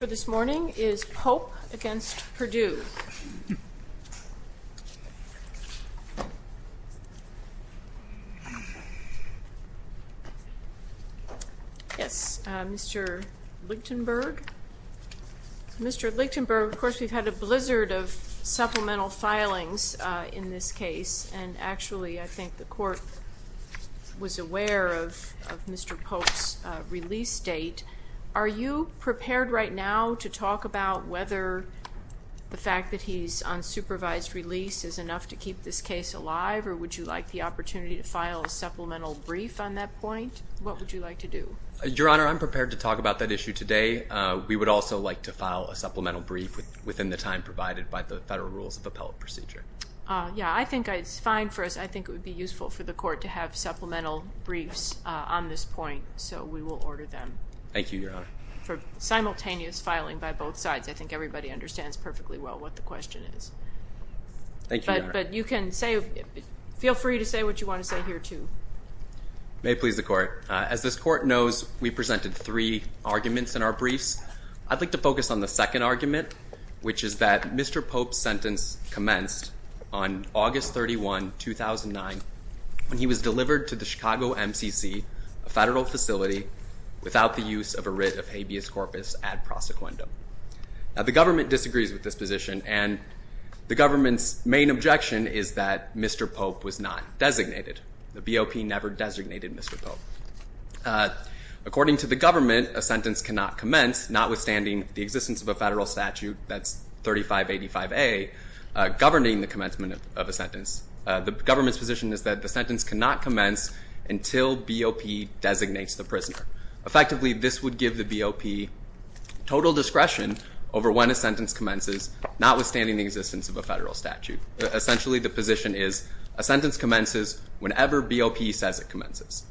The case for this morning is Pope v. Perdue. Yes, Mr. Lichtenberg. Mr. Lichtenberg, of course, we've had a blizzard of supplemental filings in this case, and actually I think the court was aware of Mr. Pope's release date. Are you prepared right now to talk about whether the fact that he's on supervised release is enough to keep this case alive, or would you like the opportunity to file a supplemental brief on that point? What would you like to do? Your Honor, I'm prepared to talk about that issue today. We would also like to file a supplemental brief within the time provided by the Federal Rules of Appellate Procedure. Yes, I think it's fine for us. I think it would be useful for the court to have supplemental briefs on this point, so we will order them. Thank you, Your Honor. For simultaneous filing by both sides. I think everybody understands perfectly well what the question is. Thank you, Your Honor. But you can say, feel free to say what you want to say here, too. May it please the court. As this court knows, we presented three arguments in our briefs. I'd like to focus on the second argument, which is that Mr. Pope's sentence commenced on August 31, 2009, when he was delivered to the Chicago MCC, a federal facility, without the use of a writ of habeas corpus ad prosequendum. The government disagrees with this position, and the government's main objection is that Mr. Pope was not designated. The BOP never designated Mr. Pope. According to the government, a sentence cannot commence, notwithstanding the existence of a federal statute that's 3585A, governing the commencement of a sentence. The government's position is that the sentence cannot commence until BOP designates the prisoner. Effectively, this would give the BOP total discretion over when a sentence commences, notwithstanding the existence of a federal statute. Essentially, the position is a sentence commences whenever BOP says it commences.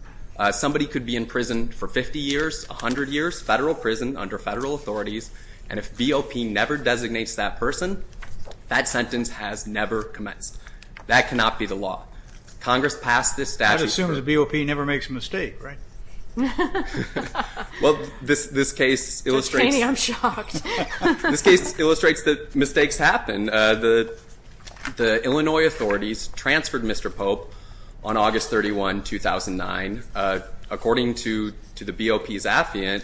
Somebody could be in prison for 50 years, 100 years, federal prison under federal authorities, and if BOP never designates that person, that sentence has never commenced. That cannot be the law. Congress passed this statute. I'd assume the BOP never makes a mistake, right? Well, this case illustrates that mistakes happen. The Illinois authorities transferred Mr. Pope on August 31, 2009. According to the BOP's affiant,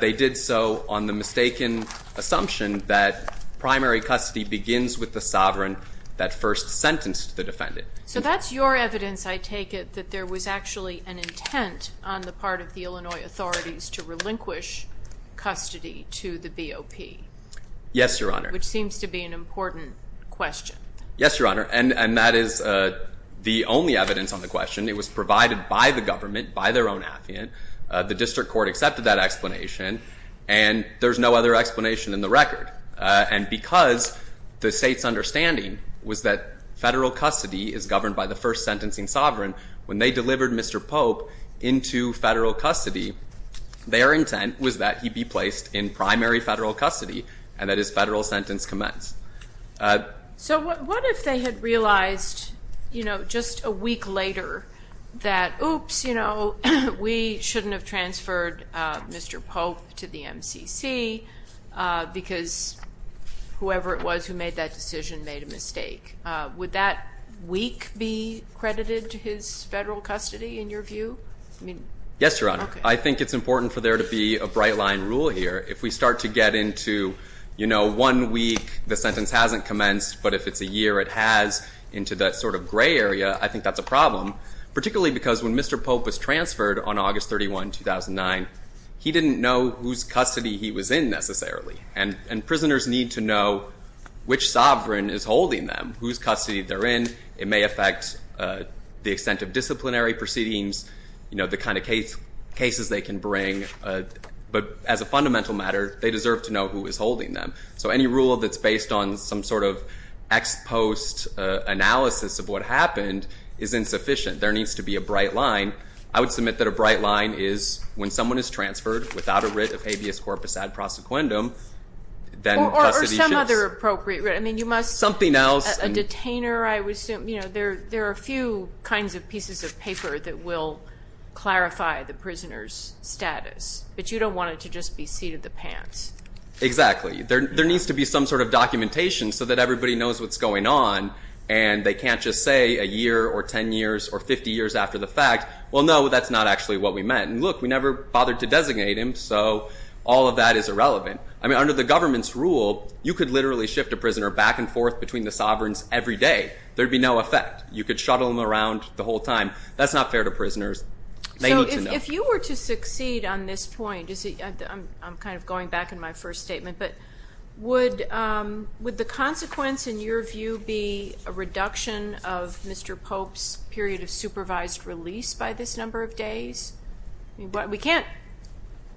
they did so on the mistaken assumption that primary custody begins with the sovereign that first sentenced the defendant. So that's your evidence, I take it, that there was actually an intent on the part of the Illinois authorities to relinquish custody to the BOP? Yes, Your Honor. Which seems to be an important question. Yes, Your Honor. And that is the only evidence on the question. It was provided by the government, by their own affiant. The district court accepted that explanation, and there's no other explanation in the record. And because the state's understanding was that federal custody is governed by the first sentencing sovereign, when they delivered Mr. Pope into federal custody, their intent was that he be placed in primary federal custody and that his federal sentence commence. So what if they had realized, you know, just a week later, that, oops, you know, we shouldn't have transferred Mr. Pope to the MCC because whoever it was who made that decision made a mistake. Would that week be credited to his federal custody in your view? Yes, Your Honor. I think it's important for there to be a bright line rule here. If we start to get into, you know, one week the sentence hasn't commenced, but if it's a year it has into that sort of gray area, I think that's a problem, particularly because when Mr. Pope was transferred on August 31, 2009, he didn't know whose custody he was in necessarily. And prisoners need to know which sovereign is holding them, whose custody they're in. It may affect the extent of disciplinary proceedings, you know, the kind of cases they can bring. But as a fundamental matter, they deserve to know who is holding them. So any rule that's based on some sort of ex post analysis of what happened is insufficient. There needs to be a bright line. I would submit that a bright line is when someone is transferred without a writ of habeas corpus ad prosequendum, then custody should be. Or some other appropriate writ. I mean, you must. Something else. A detainer, I would assume. You know, there are a few kinds of pieces of paper that will clarify the prisoner's status. But you don't want it to just be seat of the pants. Exactly. There needs to be some sort of documentation so that everybody knows what's going on and they can't just say a year or 10 years or 50 years after the fact, well, no, that's not actually what we meant. And look, we never bothered to designate him, so all of that is irrelevant. I mean, under the government's rule, you could literally shift a prisoner back and forth between the sovereigns every day. There would be no effect. You could shuttle them around the whole time. That's not fair to prisoners. They need to know. So if you were to succeed on this point, I'm kind of going back in my first statement, but would the consequence in your view be a reduction of Mr. Pope's period of supervised release by this number of days? I mean, we can't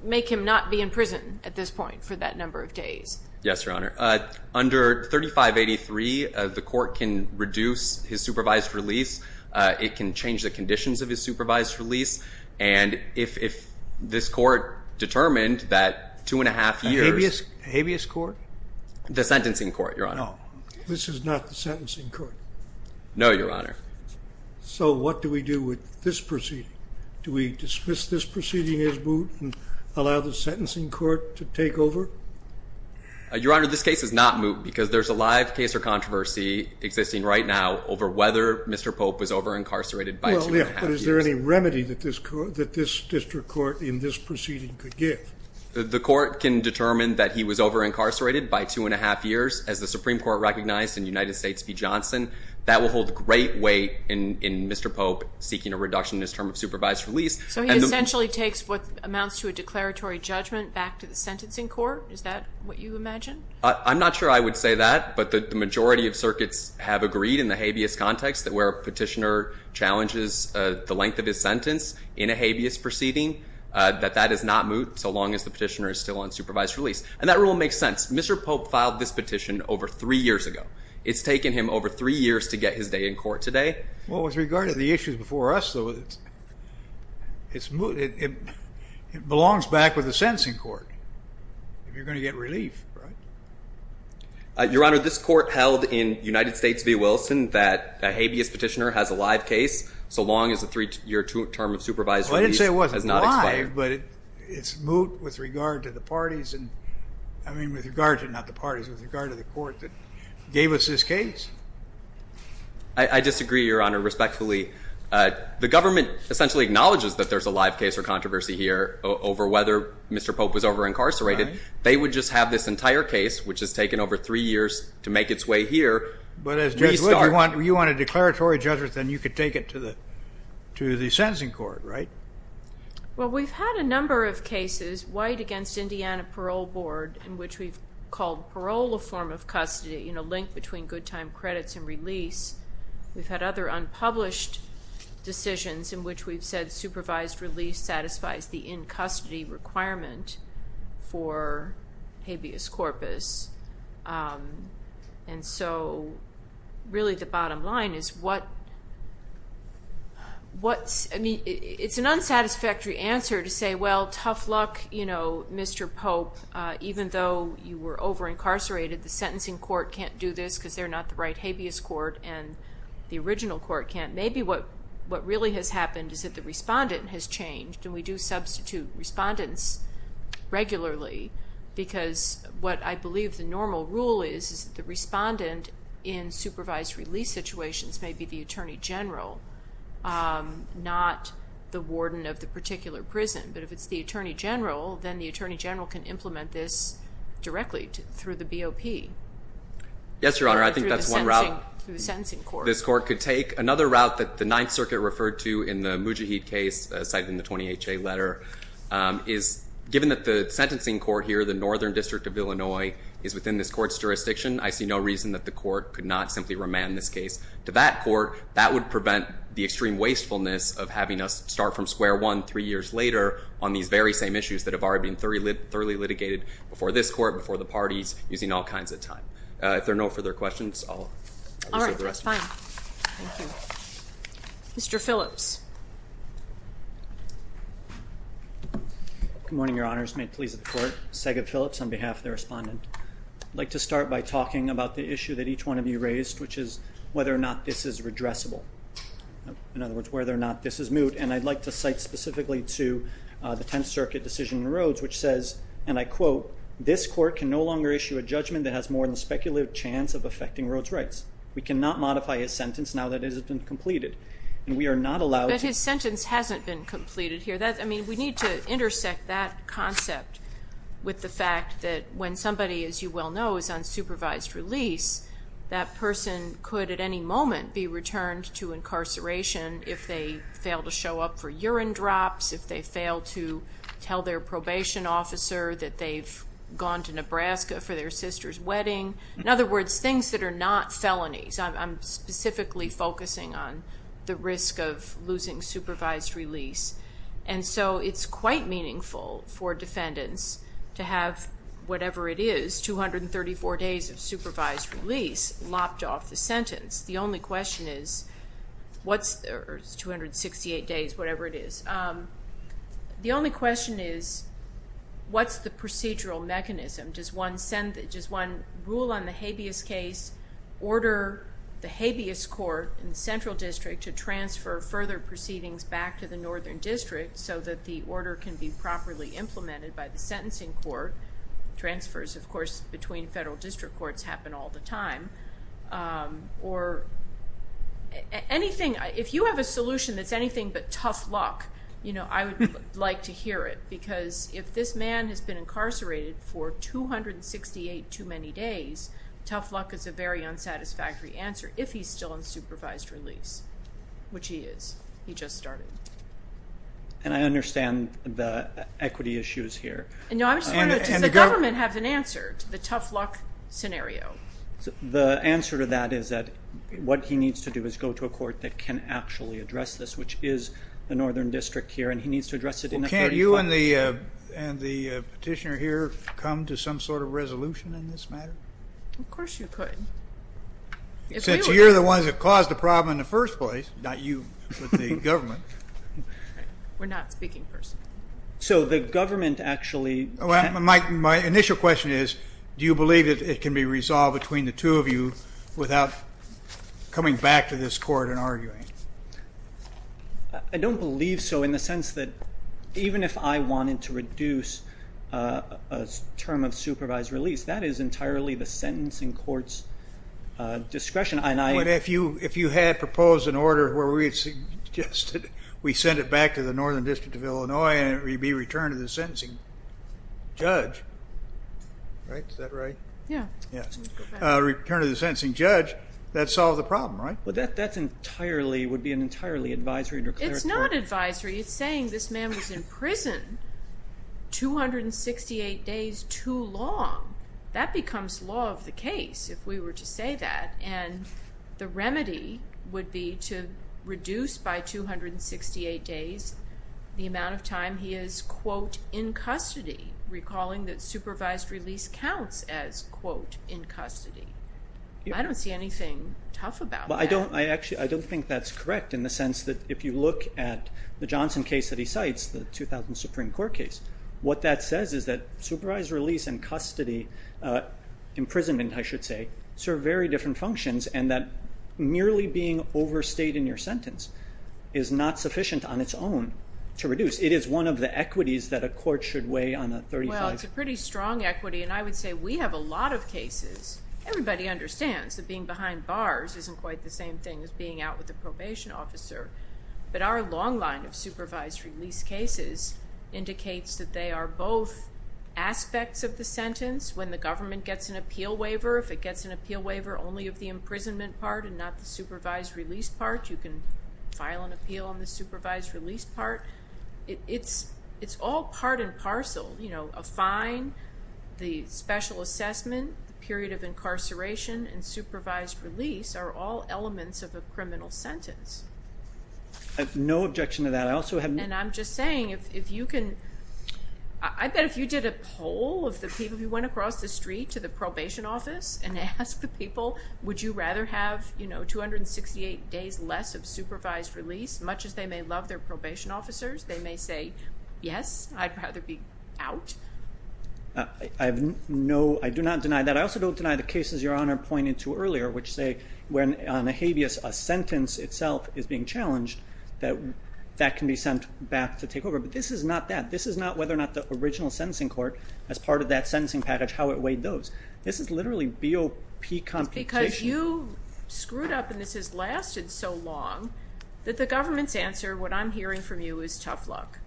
make him not be in prison at this point for that number of days. Yes, Your Honor. Under 3583, the court can reduce his supervised release. It can change the conditions of his supervised release. And if this court determined that two and a half years. The habeas court? The sentencing court, Your Honor. No, this is not the sentencing court. No, Your Honor. So what do we do with this proceeding? Do we dismiss this proceeding as moot and allow the sentencing court to take over? Your Honor, this case is not moot because there's a live case or controversy existing right now over whether Mr. Pope was over-incarcerated by two and a half years. Well, yes, but is there any remedy that this district court in this proceeding could give? The court can determine that he was over-incarcerated by two and a half years, as the Supreme Court recognized in United States v. Johnson. That will hold great weight in Mr. Pope seeking a reduction in his term of supervised release. So he essentially takes what amounts to a declaratory judgment back to the sentencing court? Is that what you imagine? I'm not sure I would say that. But the majority of circuits have agreed in the habeas context that where a petitioner challenges the length of his sentence in a habeas proceeding, that that is not moot so long as the petitioner is still on supervised release. And that rule makes sense. Mr. Pope filed this petition over three years ago. It's taken him over three years to get his day in court today. Well, with regard to the issues before us, though, it's moot. It belongs back with the sentencing court if you're going to get relief, right? Your Honor, this court held in United States v. Wilson that a habeas petitioner has a live case so long as the three-year term of supervised release has not expired. Well, I didn't say it wasn't live, but it's moot with regard to the parties. I mean, with regard to not the parties, with regard to the court that gave us this case. I disagree, Your Honor, respectfully. The government essentially acknowledges that there's a live case or controversy here over whether Mr. Pope was over-incarcerated. They would just have this entire case, which has taken over three years to make its way here, restart. But if you want a declaratory judgment, then you could take it to the sentencing court, right? Well, we've had a number of cases, White v. Indiana Parole Board, in which we've called parole a form of custody, a link between good time credits and release. We've had other unpublished decisions in which we've said supervised release satisfies the in-custody requirement for habeas corpus. And so really the bottom line is what's – I mean, it's an unsatisfactory answer to say, well, tough luck, you know, Mr. Pope. Even though you were over-incarcerated, the sentencing court can't do this because they're not the right habeas court, and the original court can't. Maybe what really has happened is that the respondent has changed, and we do substitute respondents regularly because what I believe the normal rule is is that the respondent in supervised release situations may be the attorney general, not the warden of the particular prison. But if it's the attorney general, then the attorney general can implement this directly through the BOP. Yes, Your Honor, I think that's one route this court could take. I think another route that the Ninth Circuit referred to in the Mujahid case cited in the 20HA letter is, given that the sentencing court here, the Northern District of Illinois, is within this court's jurisdiction, I see no reason that the court could not simply remand this case to that court. That would prevent the extreme wastefulness of having us start from square one three years later on these very same issues that have already been thoroughly litigated before this court, before the parties, using all kinds of time. If there are no further questions, I'll reserve the rest of the time. All right, that's fine. Thank you. Mr. Phillips. Good morning, Your Honors. May it please the Court. Sagan Phillips on behalf of the respondent. I'd like to start by talking about the issue that each one of you raised, which is whether or not this is redressable. In other words, whether or not this is moot. And I'd like to cite specifically to the Tenth Circuit decision in Rhodes, which says, and I quote, this court can no longer issue a judgment that has more than a speculative chance of affecting Rhodes' rights. We cannot modify his sentence now that it has been completed. And we are not allowed to. But his sentence hasn't been completed here. I mean, we need to intersect that concept with the fact that when somebody, as you well know, is on supervised release, that person could at any moment be returned to incarceration if they fail to show up for urine drops, if they fail to tell their probation officer that they've gone to Nebraska for their sister's wedding. In other words, things that are not felonies. I'm specifically focusing on the risk of losing supervised release. And so it's quite meaningful for defendants to have whatever it is, 234 days of supervised release, lopped off the sentence. The only question is, or it's 268 days, whatever it is. The only question is, what's the procedural mechanism? Does one rule on the habeas case, order the habeas court in the Central District to transfer further proceedings back to the Northern District so that the order can be properly implemented by the sentencing court? Transfers, of course, between federal district courts happen all the time. Or anything, if you have a solution that's anything but tough luck, I would like to hear it. Because if this man has been incarcerated for 268 too many days, tough luck is a very unsatisfactory answer, if he's still on supervised release, which he is. He just started. And I understand the equity issues here. No, I'm just wondering, does the government have an answer to the tough luck scenario? The answer to that is that what he needs to do is go to a court that can actually address this, which is the Northern District here, and he needs to address it in a very clear way. Well, can't you and the petitioner here come to some sort of resolution in this matter? Of course you could. Since you're the ones that caused the problem in the first place, not you, but the government. We're not speaking personally. So the government actually can't? My initial question is, do you believe that it can be resolved between the two of you without coming back to this court and arguing? I don't believe so in the sense that even if I wanted to reduce a term of supervised release, that is entirely the sentence in court's discretion. But if you had proposed an order where we suggested we send it back to the Northern District of Illinois and it would be returned to the sentencing judge, right? Is that right? Yeah. Return to the sentencing judge, that solves the problem, right? Well, that would be an entirely advisory and declaratory. It's not advisory. It's saying this man was in prison 268 days too long. That becomes law of the case if we were to say that, and the remedy would be to reduce by 268 days the amount of time he is, quote, in custody, recalling that supervised release counts as, quote, in custody. I don't see anything tough about that. I don't think that's correct in the sense that if you look at the Johnson case that he cites, the 2000 Supreme Court case, what that says is that supervised release and custody imprisonment, I should say, serve very different functions, and that merely being overstayed in your sentence is not sufficient on its own to reduce. It is one of the equities that a court should weigh on a 35- Well, it's a pretty strong equity, and I would say we have a lot of cases. Everybody understands that being behind bars isn't quite the same thing as being out with a probation officer, but our long line of supervised release cases indicates that they are both aspects of the sentence. When the government gets an appeal waiver, if it gets an appeal waiver only of the imprisonment part and not the supervised release part, you can file an appeal on the supervised release part. It's all part and parcel. A fine, the special assessment, the period of incarceration, and supervised release are all elements of a criminal sentence. I have no objection to that. And I'm just saying, if you can, I bet if you did a poll of the people who went across the street to the probation office and asked the people, would you rather have 268 days less of supervised release, much as they may love their probation officers, they may say, yes, I'd rather be out. I have no, I do not deny that. But I also don't deny the cases Your Honor pointed to earlier, which say when on a habeas, a sentence itself is being challenged, that that can be sent back to take over. But this is not that. This is not whether or not the original sentencing court, as part of that sentencing package, how it weighed those. This is literally BOP computation. It's because you screwed up and this has lasted so long that the government's answer, what I'm hearing from you, is tough luck.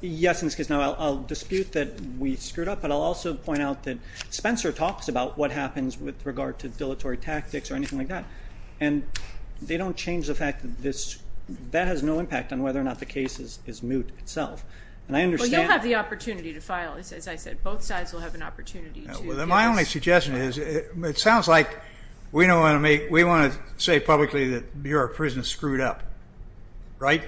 Yes, in this case. Now, I'll dispute that we screwed up, but I'll also point out that Spencer talks about what happens with regard to dilatory tactics or anything like that. And they don't change the fact that this, that has no impact on whether or not the case is moot itself. And I understand. Well, you'll have the opportunity to file, as I said. Both sides will have an opportunity to. My only suggestion is it sounds like we don't want to make, we want to say publicly that your prison screwed up, right?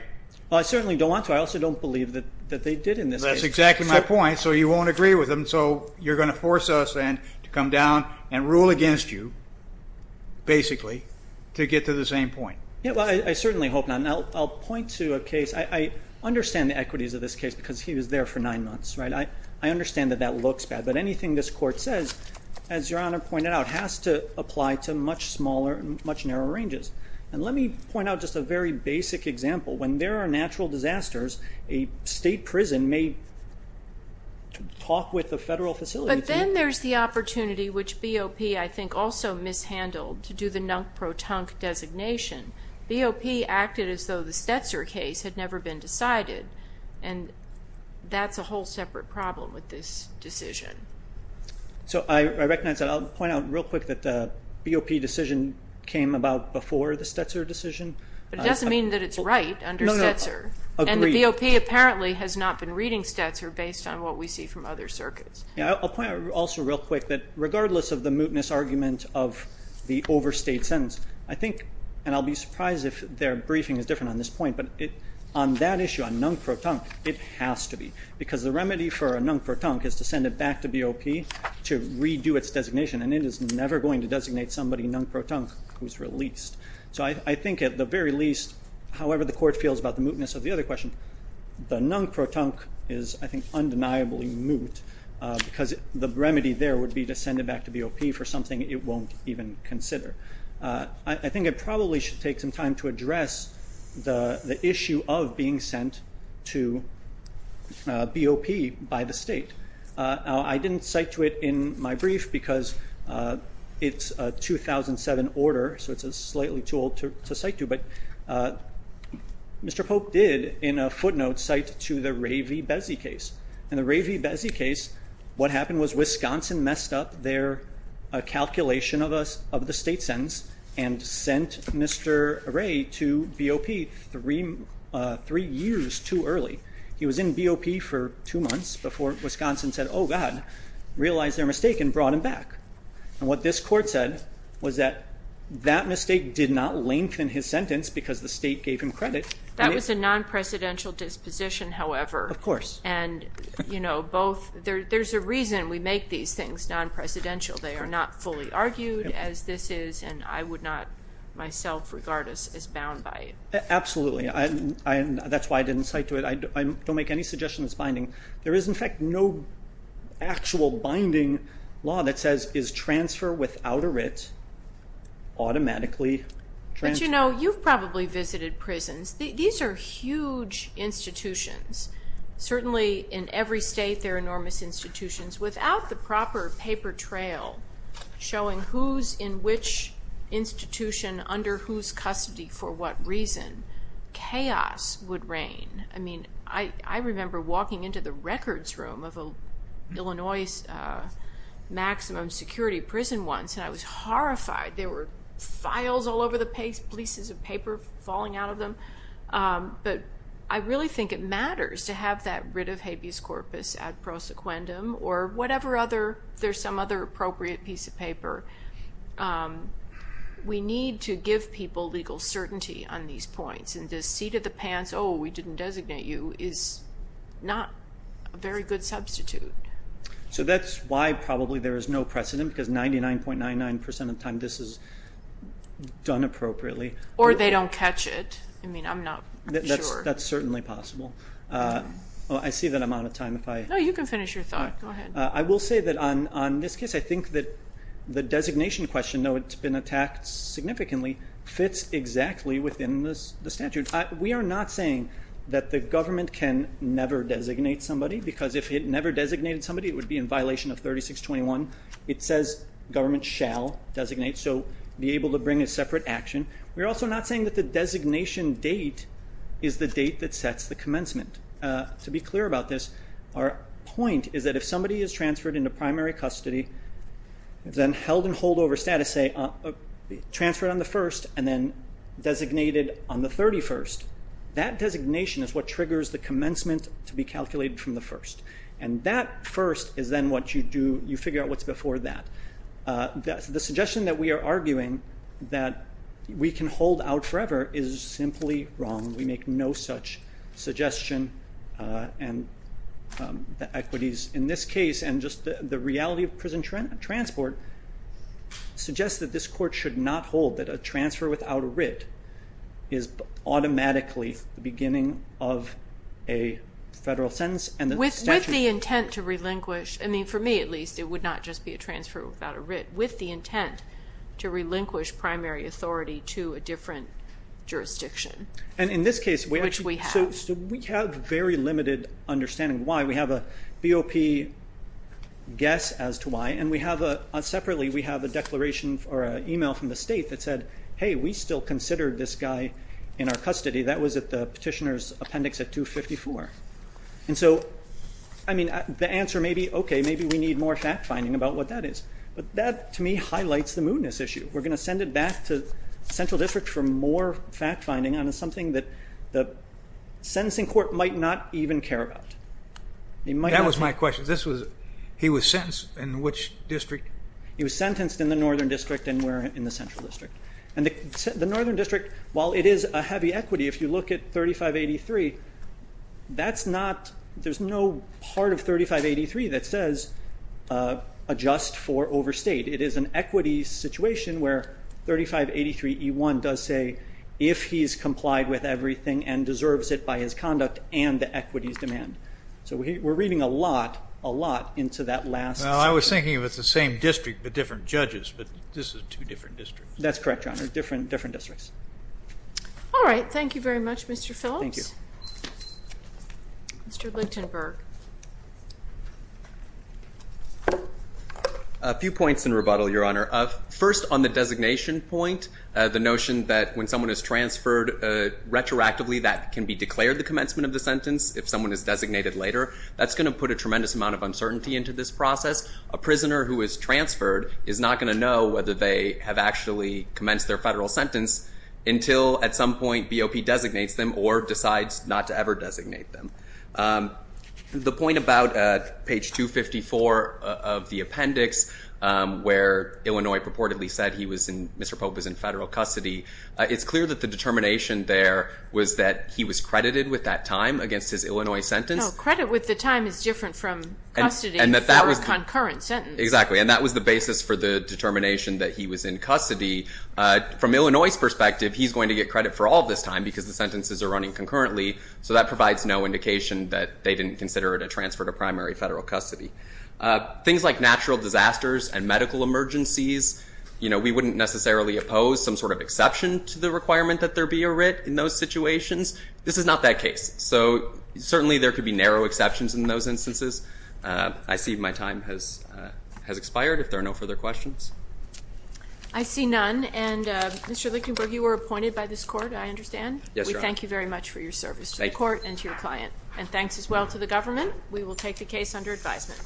Well, I certainly don't want to. But I also don't believe that they did in this case. That's exactly my point. So you won't agree with them. So you're going to force us then to come down and rule against you, basically, to get to the same point. Yeah, well, I certainly hope not. And I'll point to a case. I understand the equities of this case because he was there for nine months, right? I understand that that looks bad. But anything this court says, as Your Honor pointed out, has to apply to much smaller and much narrower ranges. And let me point out just a very basic example. When there are natural disasters, a state prison may talk with a federal facility. But then there's the opportunity, which BOP, I think, also mishandled to do the nunk-pro-tunk designation. BOP acted as though the Stetzer case had never been decided. And that's a whole separate problem with this decision. So I recognize that. I'll point out real quick that the BOP decision came about before the Stetzer decision. But it doesn't mean that it's right under Stetzer. No, no, agreed. And the BOP apparently has not been reading Stetzer based on what we see from other circuits. Yeah, I'll point out also real quick that regardless of the mootness argument of the overstate sentence, I think, and I'll be surprised if their briefing is different on this point, but on that issue, on nunk-pro-tunk, it has to be because the remedy for a nunk-pro-tunk is to send it back to BOP to redo its designation, and it is never going to designate somebody nunk-pro-tunk who's released. So I think at the very least, however the Court feels about the mootness of the other question, the nunk-pro-tunk is, I think, undeniably moot because the remedy there would be to send it back to BOP for something it won't even consider. I think it probably should take some time to address the issue of being sent to BOP by the state. I didn't cite to it in my brief because it's a 2007 order, so it's slightly too old to cite to, but Mr. Pope did in a footnote cite to the Ray V. Bezzi case. In the Ray V. Bezzi case, what happened was Wisconsin messed up their calculation of the state sentence and sent Mr. Ray to BOP three years too early. He was in BOP for two months before Wisconsin said, oh, God, realize their mistake and brought him back. And what this Court said was that that mistake did not lengthen his sentence because the state gave him credit. That was a non-presidential disposition, however. Of course. There's a reason we make these things non-presidential. They are not fully argued as this is, and I would not myself regard us as bound by it. Absolutely. That's why I didn't cite to it. I don't make any suggestion it's binding. There is, in fact, no actual binding law that says is transfer without a writ automatically transferred. But you've probably visited prisons. These are huge institutions. Certainly in every state, they're enormous institutions. Without the proper paper trail showing who's in which institution under whose custody for what reason, chaos would reign. I mean, I remember walking into the records room of an Illinois maximum security prison once, and I was horrified. There were files all over the places of paper falling out of them. But I really think it matters to have that writ of habeas corpus ad prosequendum or whatever other, there's some other appropriate piece of paper. We need to give people legal certainty on these points. And this seat of the pants, oh, we didn't designate you, is not a very good substitute. So that's why probably there is no precedent, because 99.99% of the time this is done appropriately. Or they don't catch it. I mean, I'm not sure. That's certainly possible. I see that I'm out of time. No, you can finish your thought. Go ahead. I will say that on this case, I think that the designation question, though it's been attacked significantly, fits exactly within the statute. We are not saying that the government can never designate somebody, because if it never designated somebody, it would be in violation of 3621. It says government shall designate, so be able to bring a separate action. We're also not saying that the designation date is the date that sets the commencement. To be clear about this, our point is that if somebody is transferred into primary custody, then held in holdover status, say, transferred on the 1st, and then designated on the 31st, that designation is what triggers the commencement to be calculated from the 1st. And that 1st is then what you do. You figure out what's before that. The suggestion that we are arguing that we can hold out forever is simply wrong. We make no such suggestion. And the equities in this case and just the reality of prison transport suggests that this court should not hold that a transfer without a writ is automatically the beginning of a federal sentence. With the intent to relinquish. I mean, for me at least, it would not just be a transfer without a writ. With the intent to relinquish primary authority to a different jurisdiction, which we have. So we have very limited understanding why. We have a BOP guess as to why. And separately, we have a declaration or an email from the state that said, hey, we still considered this guy in our custody. That was at the petitioner's appendix at 254. And so, I mean, the answer may be, okay, maybe we need more fact-finding about what that is. But that, to me, highlights the mootness issue. We're going to send it back to central district for more fact-finding on something that the sentencing court might not even care about. That was my question. He was sentenced in which district? He was sentenced in the northern district and we're in the central district. And the northern district, while it is a heavy equity, if you look at 3583, that's not, there's no part of 3583 that says adjust for overstate. It is an equity situation where 3583E1 does say if he's complied with everything and deserves it by his conduct and the equities demand. So we're reading a lot, a lot into that last sentence. Well, I was thinking it was the same district but different judges, but this is two different districts. That's correct, Your Honor, different districts. All right. Thank you very much, Mr. Phillips. Thank you. Mr. Lichtenberg. A few points in rebuttal, Your Honor. First, on the designation point, the notion that when someone is transferred retroactively that can be declared the commencement of the sentence if someone is designated later. That's going to put a tremendous amount of uncertainty into this process. A prisoner who is transferred is not going to know whether they have actually commenced their federal sentence until at some point BOP designates them or decides not to ever designate them. The point about page 254 of the appendix where Illinois purportedly said Mr. Pope was in federal custody, it's clear that the determination there was that he was credited with that time against his Illinois sentence. No, credit with the time is different from custody for a concurrent sentence. Exactly, and that was the basis for the determination that he was in custody. From Illinois' perspective, he's going to get credit for all this time because the sentences are running concurrently, so that provides no indication that they didn't consider it a transfer to primary federal custody. Things like natural disasters and medical emergencies, we wouldn't necessarily oppose some sort of exception to the requirement that there be a writ in those situations. This is not that case. So certainly there could be narrow exceptions in those instances. I see my time has expired if there are no further questions. I see none. Yes, Your Honor. Thank you very much for your service to the court and to your client, and thanks as well to the government. We will take the case under advisement.